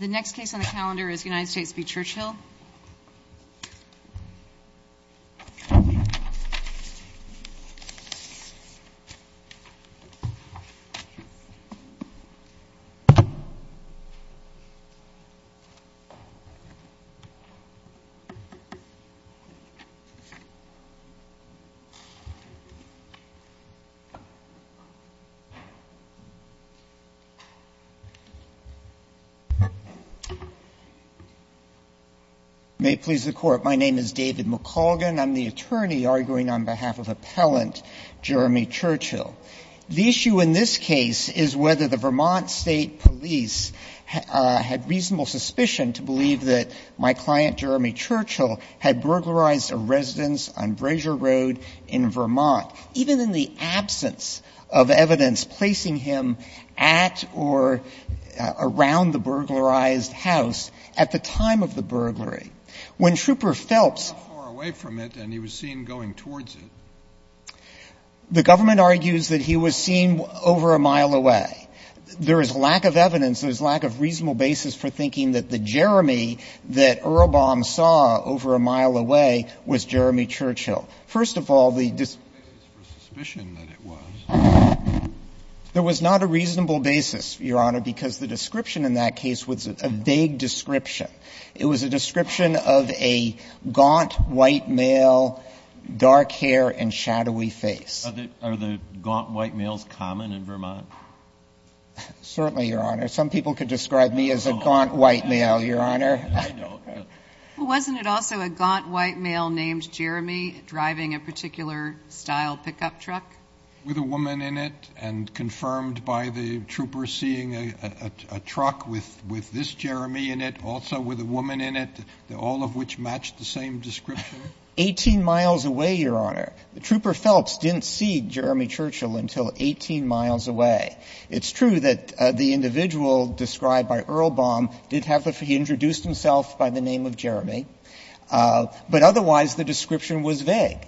The next case on the calendar is United States v. Churchill. May it please the Court, my name is David McColgan, I'm the attorney arguing on behalf of appellant Jeremy Churchill. The issue in this case is whether the Vermont State Police had reasonable suspicion to believe that my client, Jeremy Churchill, had burglarized a residence on Brazier Road in Vermont. Even in the absence of evidence placing him at or around the burglarized house at the time of the burglary. When Trooper Phelps was not far away from it and he was seen going towards it, the government argues that he was seen over a mile away. There is lack of evidence, there is lack of reasonable basis for thinking that the Jeremy that Earl Baum saw over a mile away was Jeremy Churchill. First of all, the dis- There was not a reasonable basis, Your Honor, because the description in that case was a vague description. It was a description of a gaunt white male, dark hair and shadowy face. Are the gaunt white males common in Vermont? Certainly, Your Honor. Some people could describe me as a gaunt white male, Your Honor. I know. Well, wasn't it also a gaunt white male named Jeremy driving a particular style pickup truck? With a woman in it and confirmed by the trooper seeing a truck with this Jeremy in it, also with a woman in it, all of which matched the same description. 18 miles away, Your Honor. Trooper Phelps didn't see Jeremy Churchill until 18 miles away. It's true that the individual described by Earl Baum did have the feeling he introduced himself by the name of Jeremy, but otherwise the description was vague.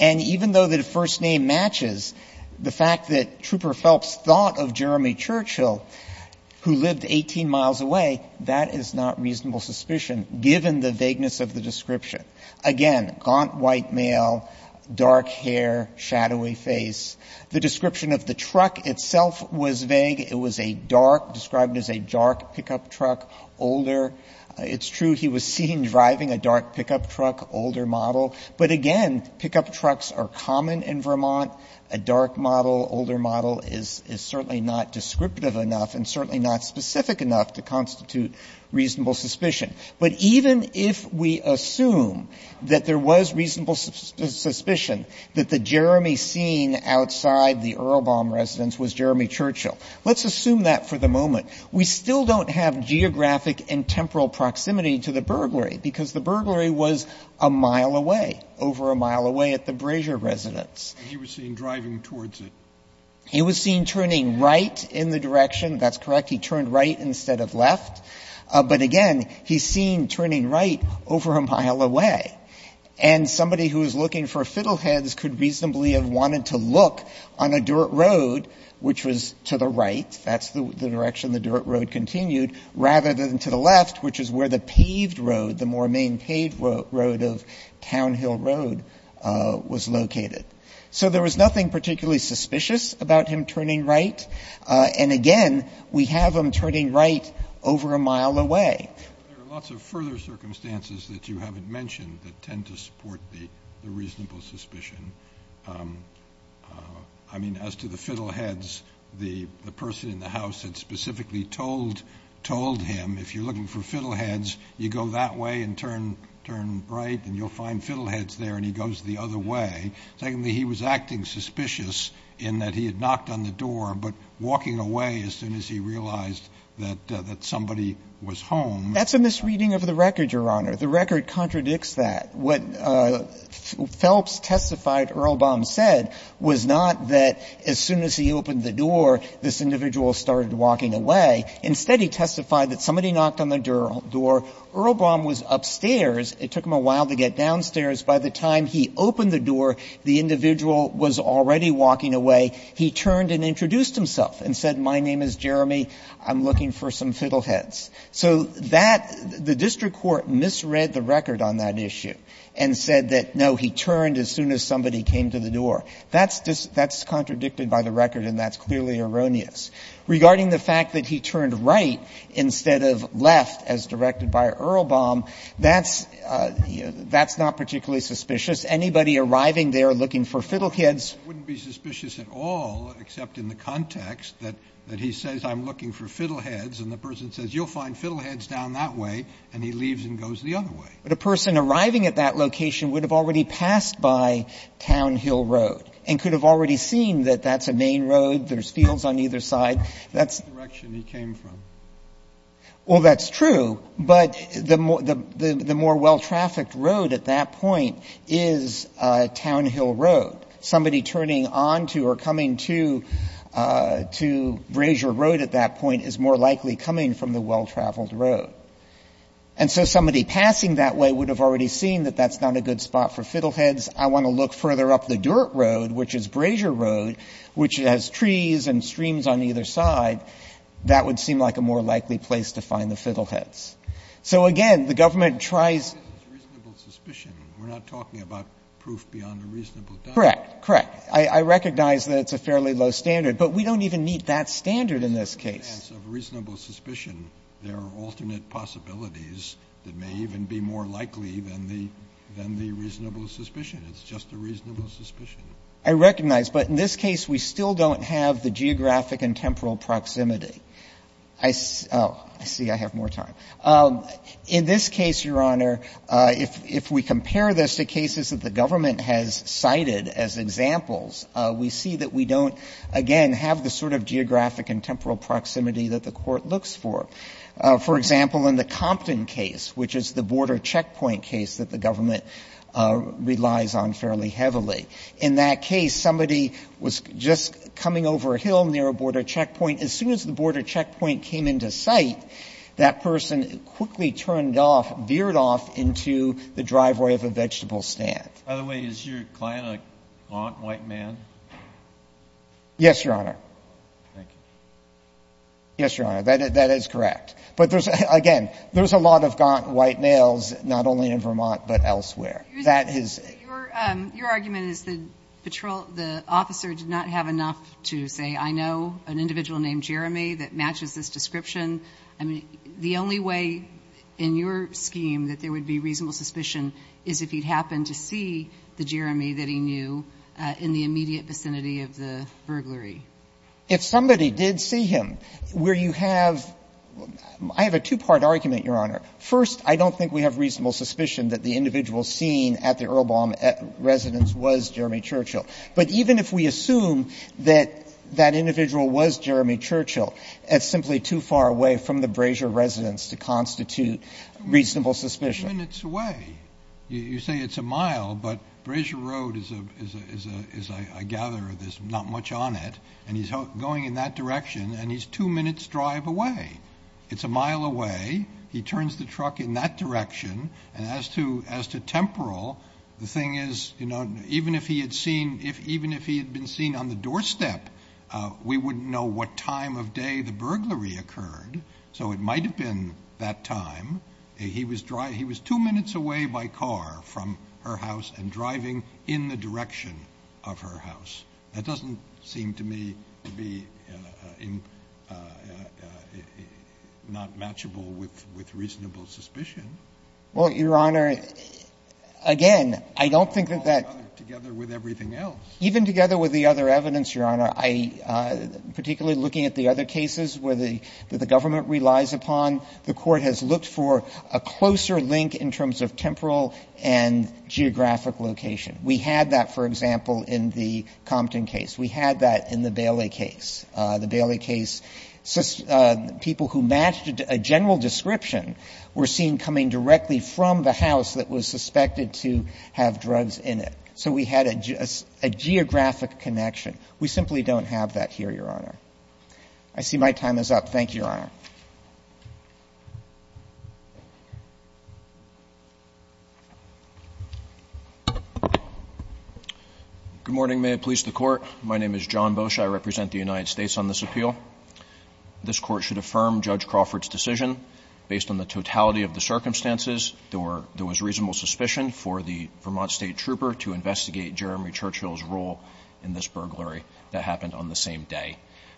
And even though the first name matches, the fact that Trooper Phelps thought of Jeremy Churchill, who lived 18 miles away, that is not reasonable suspicion, given the vagueness of the description. Again, gaunt white male, dark hair, shadowy face. The description of the truck itself was vague. It was a dark, described as a dark pickup truck, older. It's true he was seen driving a dark pickup truck, older model. But again, pickup trucks are common in Vermont. A dark model, older model is certainly not descriptive enough and certainly not specific enough to constitute reasonable suspicion. But even if we assume that there was reasonable suspicion that the Jeremy seen outside the Earl Baum residence was Jeremy Churchill, let's assume that for the moment. We still don't have geographic and temporal proximity to the burglary, because the burglary was a mile away, over a mile away at the Brazier residence. He was seen driving towards it. He was seen turning right in the direction. That's correct. He turned right instead of left. But again, he's seen turning right over a mile away. And somebody who was looking for fiddleheads could reasonably have wanted to look on a dirt road, which was to the right. That's the direction the dirt road continued, rather than to the left, which is where the paved road, the more main paved road of Town Hill Road was located. So there was nothing particularly suspicious about him turning right. And again, we have him turning right over a mile away. There are lots of further circumstances that you haven't mentioned that tend to support the reasonable suspicion. I mean, as to the fiddleheads, the person in the house had specifically told him if you're looking for fiddleheads, you go that way and turn right and you'll find fiddleheads there and he goes the other way. Secondly, he was acting suspicious in that he had knocked on the door but walking away as soon as he realized that somebody was home. That's a misreading of the record, Your Honor. The record contradicts that. What Phelps testified Earlbaum said was not that as soon as he opened the door, this individual started walking away. Instead, he testified that somebody knocked on the door. Earlbaum was upstairs. It took him a while to get downstairs. By the time he opened the door, the individual was already walking away. He turned and introduced himself and said, my name is Jeremy. I'm looking for some fiddleheads. So that the district court misread the record on that issue and said that, no, he turned as soon as somebody came to the door. That's contradicted by the record and that's clearly erroneous. Regarding the fact that he turned right instead of left, as directed by Earlbaum, that's not particularly suspicious. Anybody arriving there looking for fiddleheads. Scalia. It wouldn't be suspicious at all, except in the context that he says I'm looking for fiddleheads and the person says, you'll find fiddleheads down that way, and he leaves and goes the other way. Dreeben. But a person arriving at that location would have already passed by Town Hill Road and could have already seen that that's a main road, there's fields on either That's the direction he came from. Well, that's true. But the more well-trafficked road at that point is Town Hill Road. Somebody turning onto or coming to Brazier Road at that point is more likely coming from the well-traveled road. And so somebody passing that way would have already seen that that's not a good spot for fiddleheads. I want to look further up the dirt road, which is Brazier Road, which has trees and streams on either side. That would seem like a more likely place to find the fiddleheads. So, again, the government tries Reasonable suspicion. We're not talking about proof beyond a reasonable doubt. Correct. Correct. I recognize that it's a fairly low standard, but we don't even meet that standard in this case. In advance of reasonable suspicion, there are alternate possibilities that may even be more likely than the reasonable suspicion. It's just a reasonable suspicion. I recognize. But in this case, we still don't have the geographic and temporal proximity. I see I have more time. In this case, Your Honor, if we compare this to cases that the government has cited as examples, we see that we don't, again, have the sort of geographic and temporal proximity that the Court looks for. For example, in the Compton case, which is the border checkpoint case that the government relies on fairly heavily. In that case, somebody was just coming over a hill near a border checkpoint. As soon as the border checkpoint came into sight, that person quickly turned off, veered off into the driveway of a vegetable stand. By the way, is your client a gaunt, white man? Yes, Your Honor. Thank you. Yes, Your Honor. That is correct. But, again, there's a lot of gaunt, white males, not only in Vermont, but elsewhere. Your argument is the patrol, the officer did not have enough to say, I know an individual named Jeremy that matches this description. The only way in your scheme that there would be reasonable suspicion is if he'd happen to see the Jeremy that he knew in the immediate vicinity of the burglary. If somebody did see him, where you have – I have a two-part argument, Your Honor. First, I don't think we have reasonable suspicion that the individual seen at the Earlbaum residence was Jeremy Churchill. But even if we assume that that individual was Jeremy Churchill, that's simply too far away from the Brasier residence to constitute reasonable suspicion. Two minutes away. You say it's a mile, but Brasier Road is, I gather, there's not much on it, and he's going in that direction, and he's two minutes' drive away. It's a mile away. He turns the truck in that direction. And as to Temporal, the thing is, you know, even if he had seen – even if he had been seen on the doorstep, we wouldn't know what time of day the burglary occurred. So it might have been that time. He was two minutes away by car from her house and driving in the direction of her house. That doesn't seem to me to be not matchable with reasonable suspicion. Well, Your Honor, again, I don't think that that – Together with everything else. Even together with the other evidence, Your Honor, I – particularly looking at the other cases where the government relies upon, the Court has looked for a closer link in terms of Temporal and geographic location. We had that, for example, in the Compton case. We had that in the Bailey case. The Bailey case, people who matched a general description were seen coming directly from the house that was suspected to have drugs in it. So we had a geographic connection. We simply don't have that here, Your Honor. I see my time is up. Thank you, Your Honor. Good morning. May it please the Court. My name is John Bosh. I represent the United States on this appeal. This Court should affirm Judge Crawford's decision. Based on the totality of the circumstances, there was reasonable suspicion for the Vermont State Trooper to investigate Jeremy Churchill's role in this burglary that happened on the same day.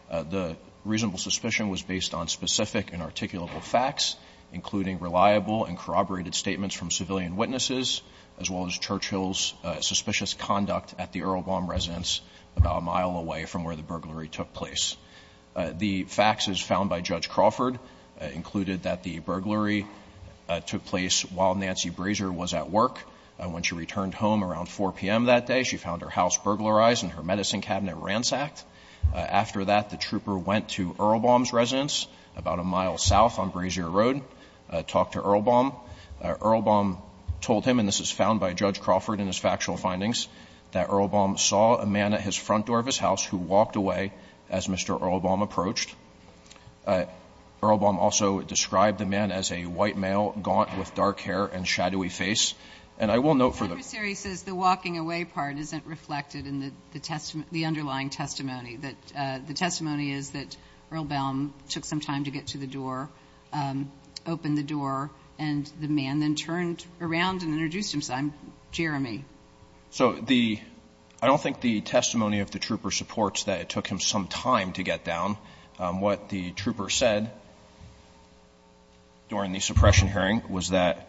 The reasonable suspicion was based on specific and articulable facts, including reliable and corroborated statements from civilian witnesses, as well as Churchill's suspicious conduct at the Earlbaum residence about a mile away from where the burglary took place. The faxes found by Judge Crawford included that the burglary took place while Nancy Brazier was at work. When she returned home around 4 p.m. that day, she found her house burglarized and her medicine cabinet ransacked. After that, the trooper went to Earlbaum's residence about a mile south on Brazier Road, talked to Earlbaum. Earlbaum told him, and this is found by Judge Crawford in his factual findings, that Earlbaum saw a man at his front door of his house who walked away as Mr. Earlbaum approached. Earlbaum also described the man as a white male, gaunt with dark hair and shadowy And I will note for the Court. Ms. Sherry says the walking away part isn't reflected in the testimony, the underlying testimony, that the testimony is that Earlbaum took some time to get to the door, opened the door, and the man then turned around and introduced himself, Jeremy. So the, I don't think the testimony of the trooper supports that it took him some time to get down. What the trooper said during the suppression hearing was that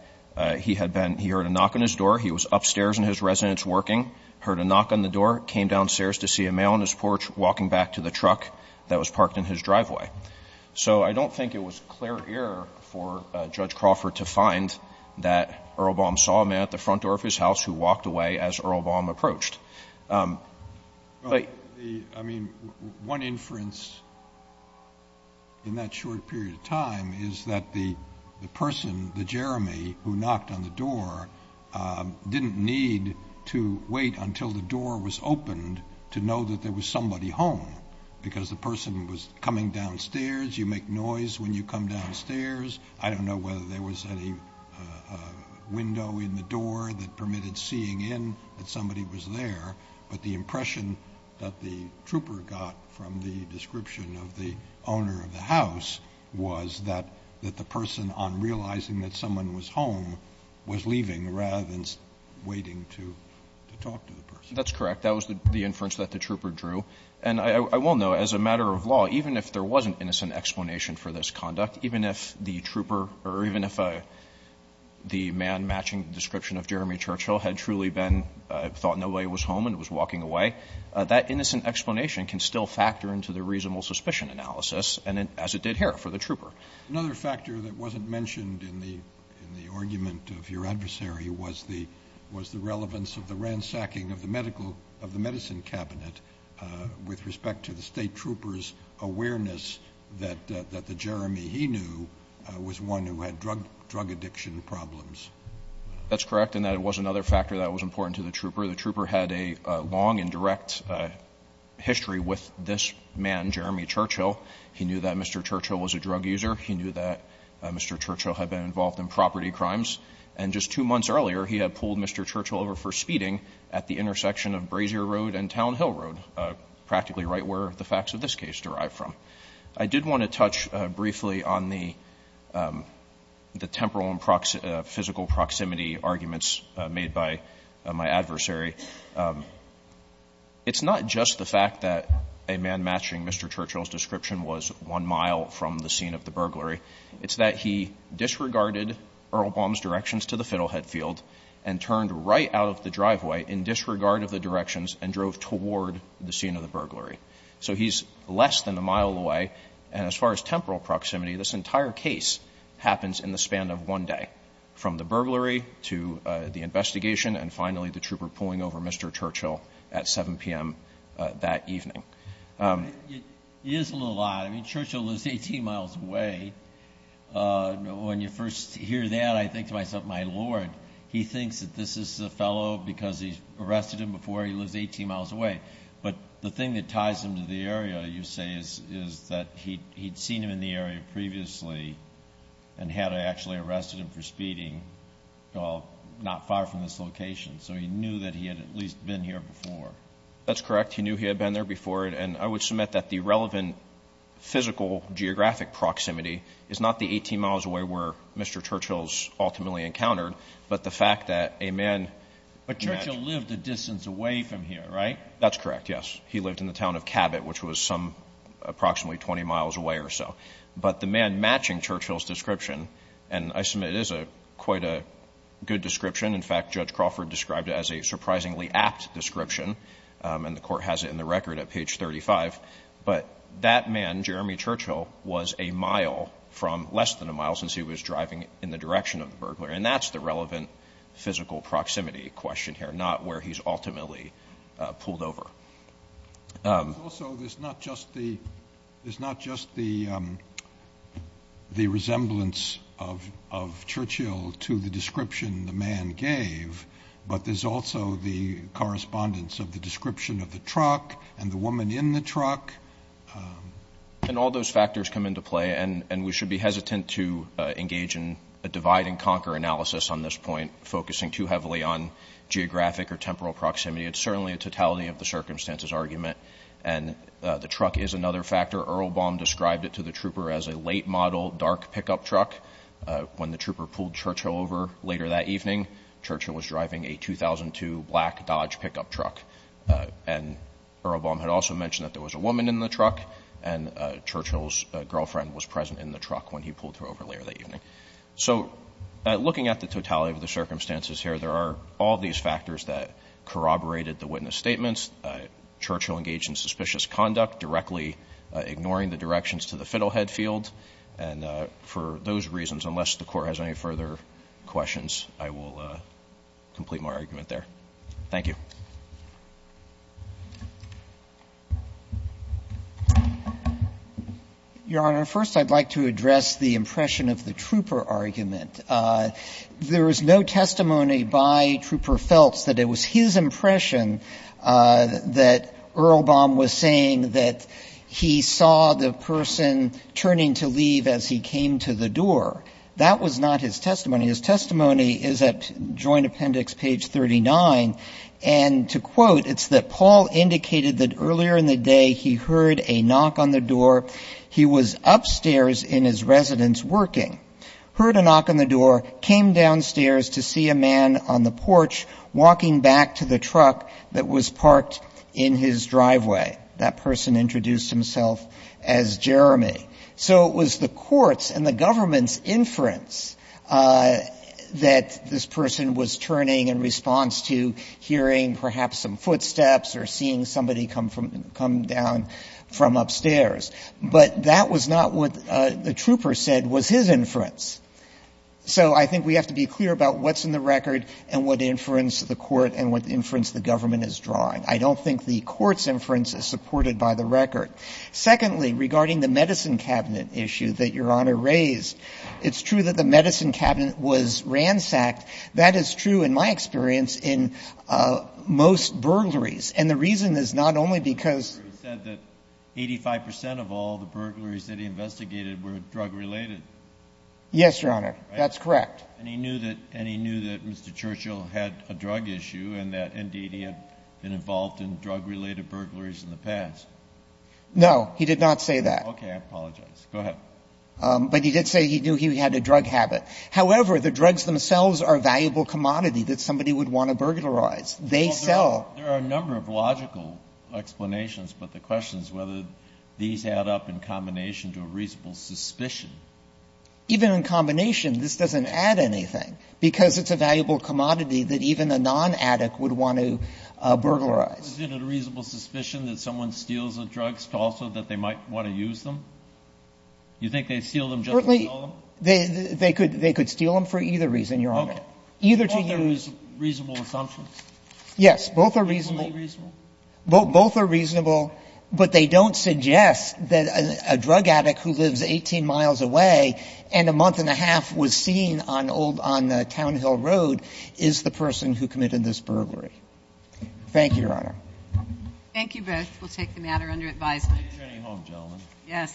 he had been, he heard a knock on his door. He was upstairs in his residence working, heard a knock on the door, came downstairs to see a male on his porch walking back to the truck that was parked in his driveway. So I don't think it was clear error for Judge Crawford to find that Earlbaum saw a man at the front door of his house who walked away as Earlbaum approached. But the, I mean, one inference in that short period of time is that the person, the trooper didn't need to wait until the door was opened to know that there was somebody home because the person was coming downstairs. You make noise when you come downstairs. I don't know whether there was any window in the door that permitted seeing in that somebody was there. But the impression that the trooper got from the description of the owner of the house was that the person, on realizing that someone was home, was leaving rather than waiting to talk to the person. That's correct. That was the inference that the trooper drew. And I will note, as a matter of law, even if there wasn't innocent explanation for this conduct, even if the trooper or even if the man matching the description of Jeremy Churchill had truly been, thought nobody was home and was walking away, that innocent explanation can still factor into the reasonable suspicion analysis as it did here for the trooper. Another factor that wasn't mentioned in the argument of your adversary was the relevance of the ransacking of the medicine cabinet with respect to the state trooper's awareness that the Jeremy he knew was one who had drug addiction problems. That's correct in that it was another factor that was important to the trooper. The trooper had a long and direct history with this man, Jeremy Churchill. He knew that Mr. Churchill was a drug user. He knew that Mr. Churchill had been involved in property crimes. And just two months earlier, he had pulled Mr. Churchill over for speeding at the intersection of Brazier Road and Town Hill Road, practically right where the facts of this case derive from. I did want to touch briefly on the temporal and physical proximity arguments made by my adversary. It's not just the fact that a man matching Mr. Churchill's description was one mile from the scene of the burglary. It's that he disregarded Earl Baum's directions to the Fiddlehead Field and turned right out of the driveway in disregard of the directions and drove toward the scene of the burglary. So he's less than a mile away. And as far as temporal proximity, this entire case happens in the span of one day, from the burglary to the investigation and, finally, the trooper pulling over Mr. Churchill at 7 p.m. that evening. It is a little odd. I mean, Churchill lives 18 miles away. When you first hear that, I think to myself, my Lord, he thinks that this is a fellow because he's arrested him before he lives 18 miles away. But the thing that ties him to the area, you say, is that he'd seen him in the area previously and had actually arrested him for speeding not far from this location. So he knew that he had at least been here before. That's correct. He knew he had been there before. And I would submit that the relevant physical geographic proximity is not the 18 miles away where Mr. Churchill is ultimately encountered, but the fact that a man But Churchill lived a distance away from here, right? That's correct, yes. He lived in the town of Cabot, which was approximately 20 miles away or so. But the man matching Churchill's description, and I submit it is quite a good description. In fact, Judge Crawford described it as a surprisingly apt description. And the Court has it in the record at page 35. But that man, Jeremy Churchill, was a mile from less than a mile since he was driving in the direction of the burglar. And that's the relevant physical proximity question here, not where he's ultimately pulled over. Also, there's not just the resemblance of Churchill to the description the man gave, but there's also the correspondence of the description of the truck and the woman in the truck. And all those factors come into play. And we should be hesitant to engage in a divide-and-conquer analysis on this point, focusing too heavily on geographic or temporal proximity. It's certainly a totality-of-the-circumstances argument. And the truck is another factor. Earl Baum described it to the trooper as a late-model dark pickup truck. When the trooper pulled Churchill over later that evening, Churchill was driving a 2002 black Dodge pickup truck. And Earl Baum had also mentioned that there was a woman in the truck, and Churchill's girlfriend was present in the truck when he pulled her over later that evening. So looking at the totality of the circumstances here, there are all these factors that corroborate the witness statements. Churchill engaged in suspicious conduct, directly ignoring the directions to the Fiddlehead field. And for those reasons, unless the Court has any further questions, I will complete my argument there. Thank you. Sotomayor. Your Honor, first I'd like to address the impression of the trooper argument. There is no testimony by Trooper Feltz that it was his impression that Earl Baum was saying that he saw the person turning to leave as he came to the door. That was not his testimony. His testimony is at Joint Appendix, page 39, and to quote, it's that Paul indicated that earlier in the day he heard a knock on the door. He was upstairs in his residence working. Heard a knock on the door, came downstairs to see a man on the porch walking back to the truck that was parked in his driveway. That person introduced himself as Jeremy. So it was the Court's and the government's inference that this person was turning in response to hearing perhaps some footsteps or seeing somebody come down from upstairs. But that was not what the trooper said was his inference. So I think we have to be clear about what's in the record and what inference the Court and what inference the government is drawing. I don't think the Court's inference is supported by the record. Secondly, regarding the medicine cabinet issue that Your Honor raised, it's true that the medicine cabinet was ransacked. That is true in my experience in most burglaries, and the reason is not only because of this drug business, but because of the fact that the drug business is under It's not true. Kennedy, you have said that 85 percent of all the burglaries that he investigated were drug related. Yes, Your Honor. That's correct. And he knew that, and he knew that Mr. Churchill had a drug issue and that indeed he had been involved in drug-related burglaries in the past. No. He did not say that. Okay. I apologize. Go ahead. But he did say he knew he had a drug habit. However, the drugs themselves are a valuable commodity that somebody would want to burglarize. They sell. There are a number of logical explanations, but the question is whether these add up in combination to a reasonable suspicion. Even in combination, this doesn't add anything, because it's a valuable commodity that even a non-addict would want to burglarize. Was it a reasonable suspicion that someone steals the drugs also that they might want to use them? You think they'd steal them just to sell them? They could steal them for either reason, Your Honor. Okay. Either to use them. Both are reasonable assumptions. Yes. Both are reasonable. Both are reasonable, but they don't suggest that a drug addict who lives 18 miles away and a month and a half was seen on old — on Town Hill Road is the person who committed this burglary. Thank you, Your Honor. Thank you both. We'll take the matter under advisement. Please return to your homes, gentlemen. Yes.